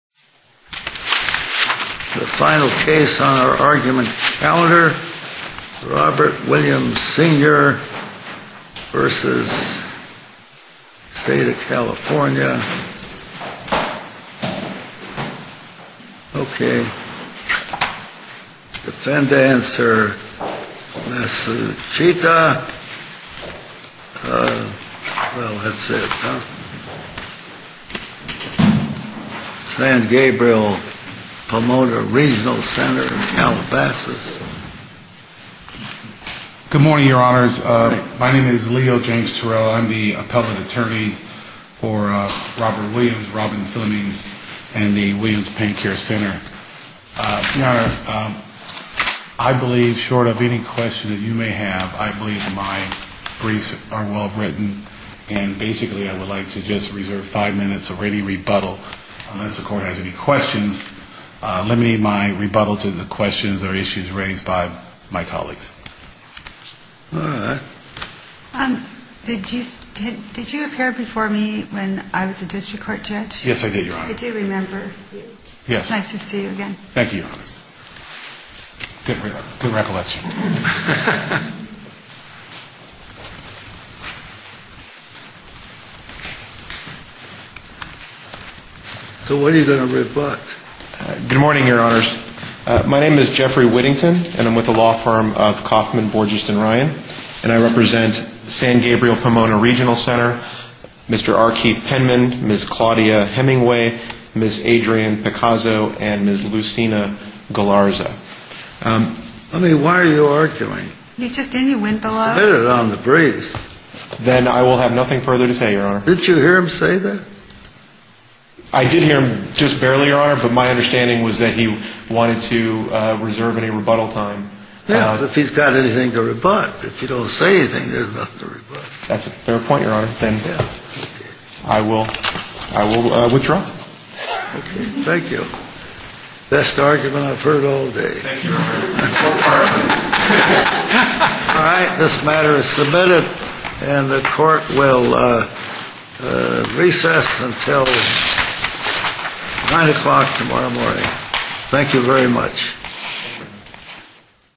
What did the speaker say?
The final case on our argument calendar. Robert Williams, Sr. v. State of California. Okay. Defendant, Sir Masuchita. Well, that's it, huh? San Gabriel Pomona Regional Center in Calabasas. Good morning, Your Honors. My name is Leo James Turrell. I'm the appellate attorney for Robert Williams, Robin Philonese, and the Williams Pain Care Center. Your Honor, I believe, short of any question that you may have, I believe my briefs are well written. And basically, I would like to just reserve five minutes of ready rebuttal unless the court has any questions. Let me rebuttal to the questions or issues raised by my colleagues. All right. Did you appear before me when I was a district court judge? Yes, I did, Your Honor. I do remember. Nice to see you again. Thank you, Your Honor. Good recollection. So what are you going to rebut? Good morning, Your Honors. My name is Jeffrey Whittington, and I'm with the law firm of Kauffman, Borges, and Ryan. And I represent San Gabriel Pomona Regional Center, Mr. R. Keith Penman, Ms. Claudia Hemingway, Ms. Adrienne Picazo, and Ms. Lucina Galarza. I mean, why are you arguing? He just didn't, he went below. I said it on the briefs. Then I will have nothing further to say, Your Honor. Didn't you hear him say that? I did hear him just barely, Your Honor, but my understanding was that he wanted to reserve any rebuttal time. Yeah, if he's got anything to rebut. If you don't say anything, there's nothing to rebut. That's a fair point, Your Honor. Then I will withdraw. Okay, thank you. Best argument I've heard all day. Thank you, Your Honor. All right, this matter is submitted, and the court will recess until 9 o'clock tomorrow morning. Thank you very much.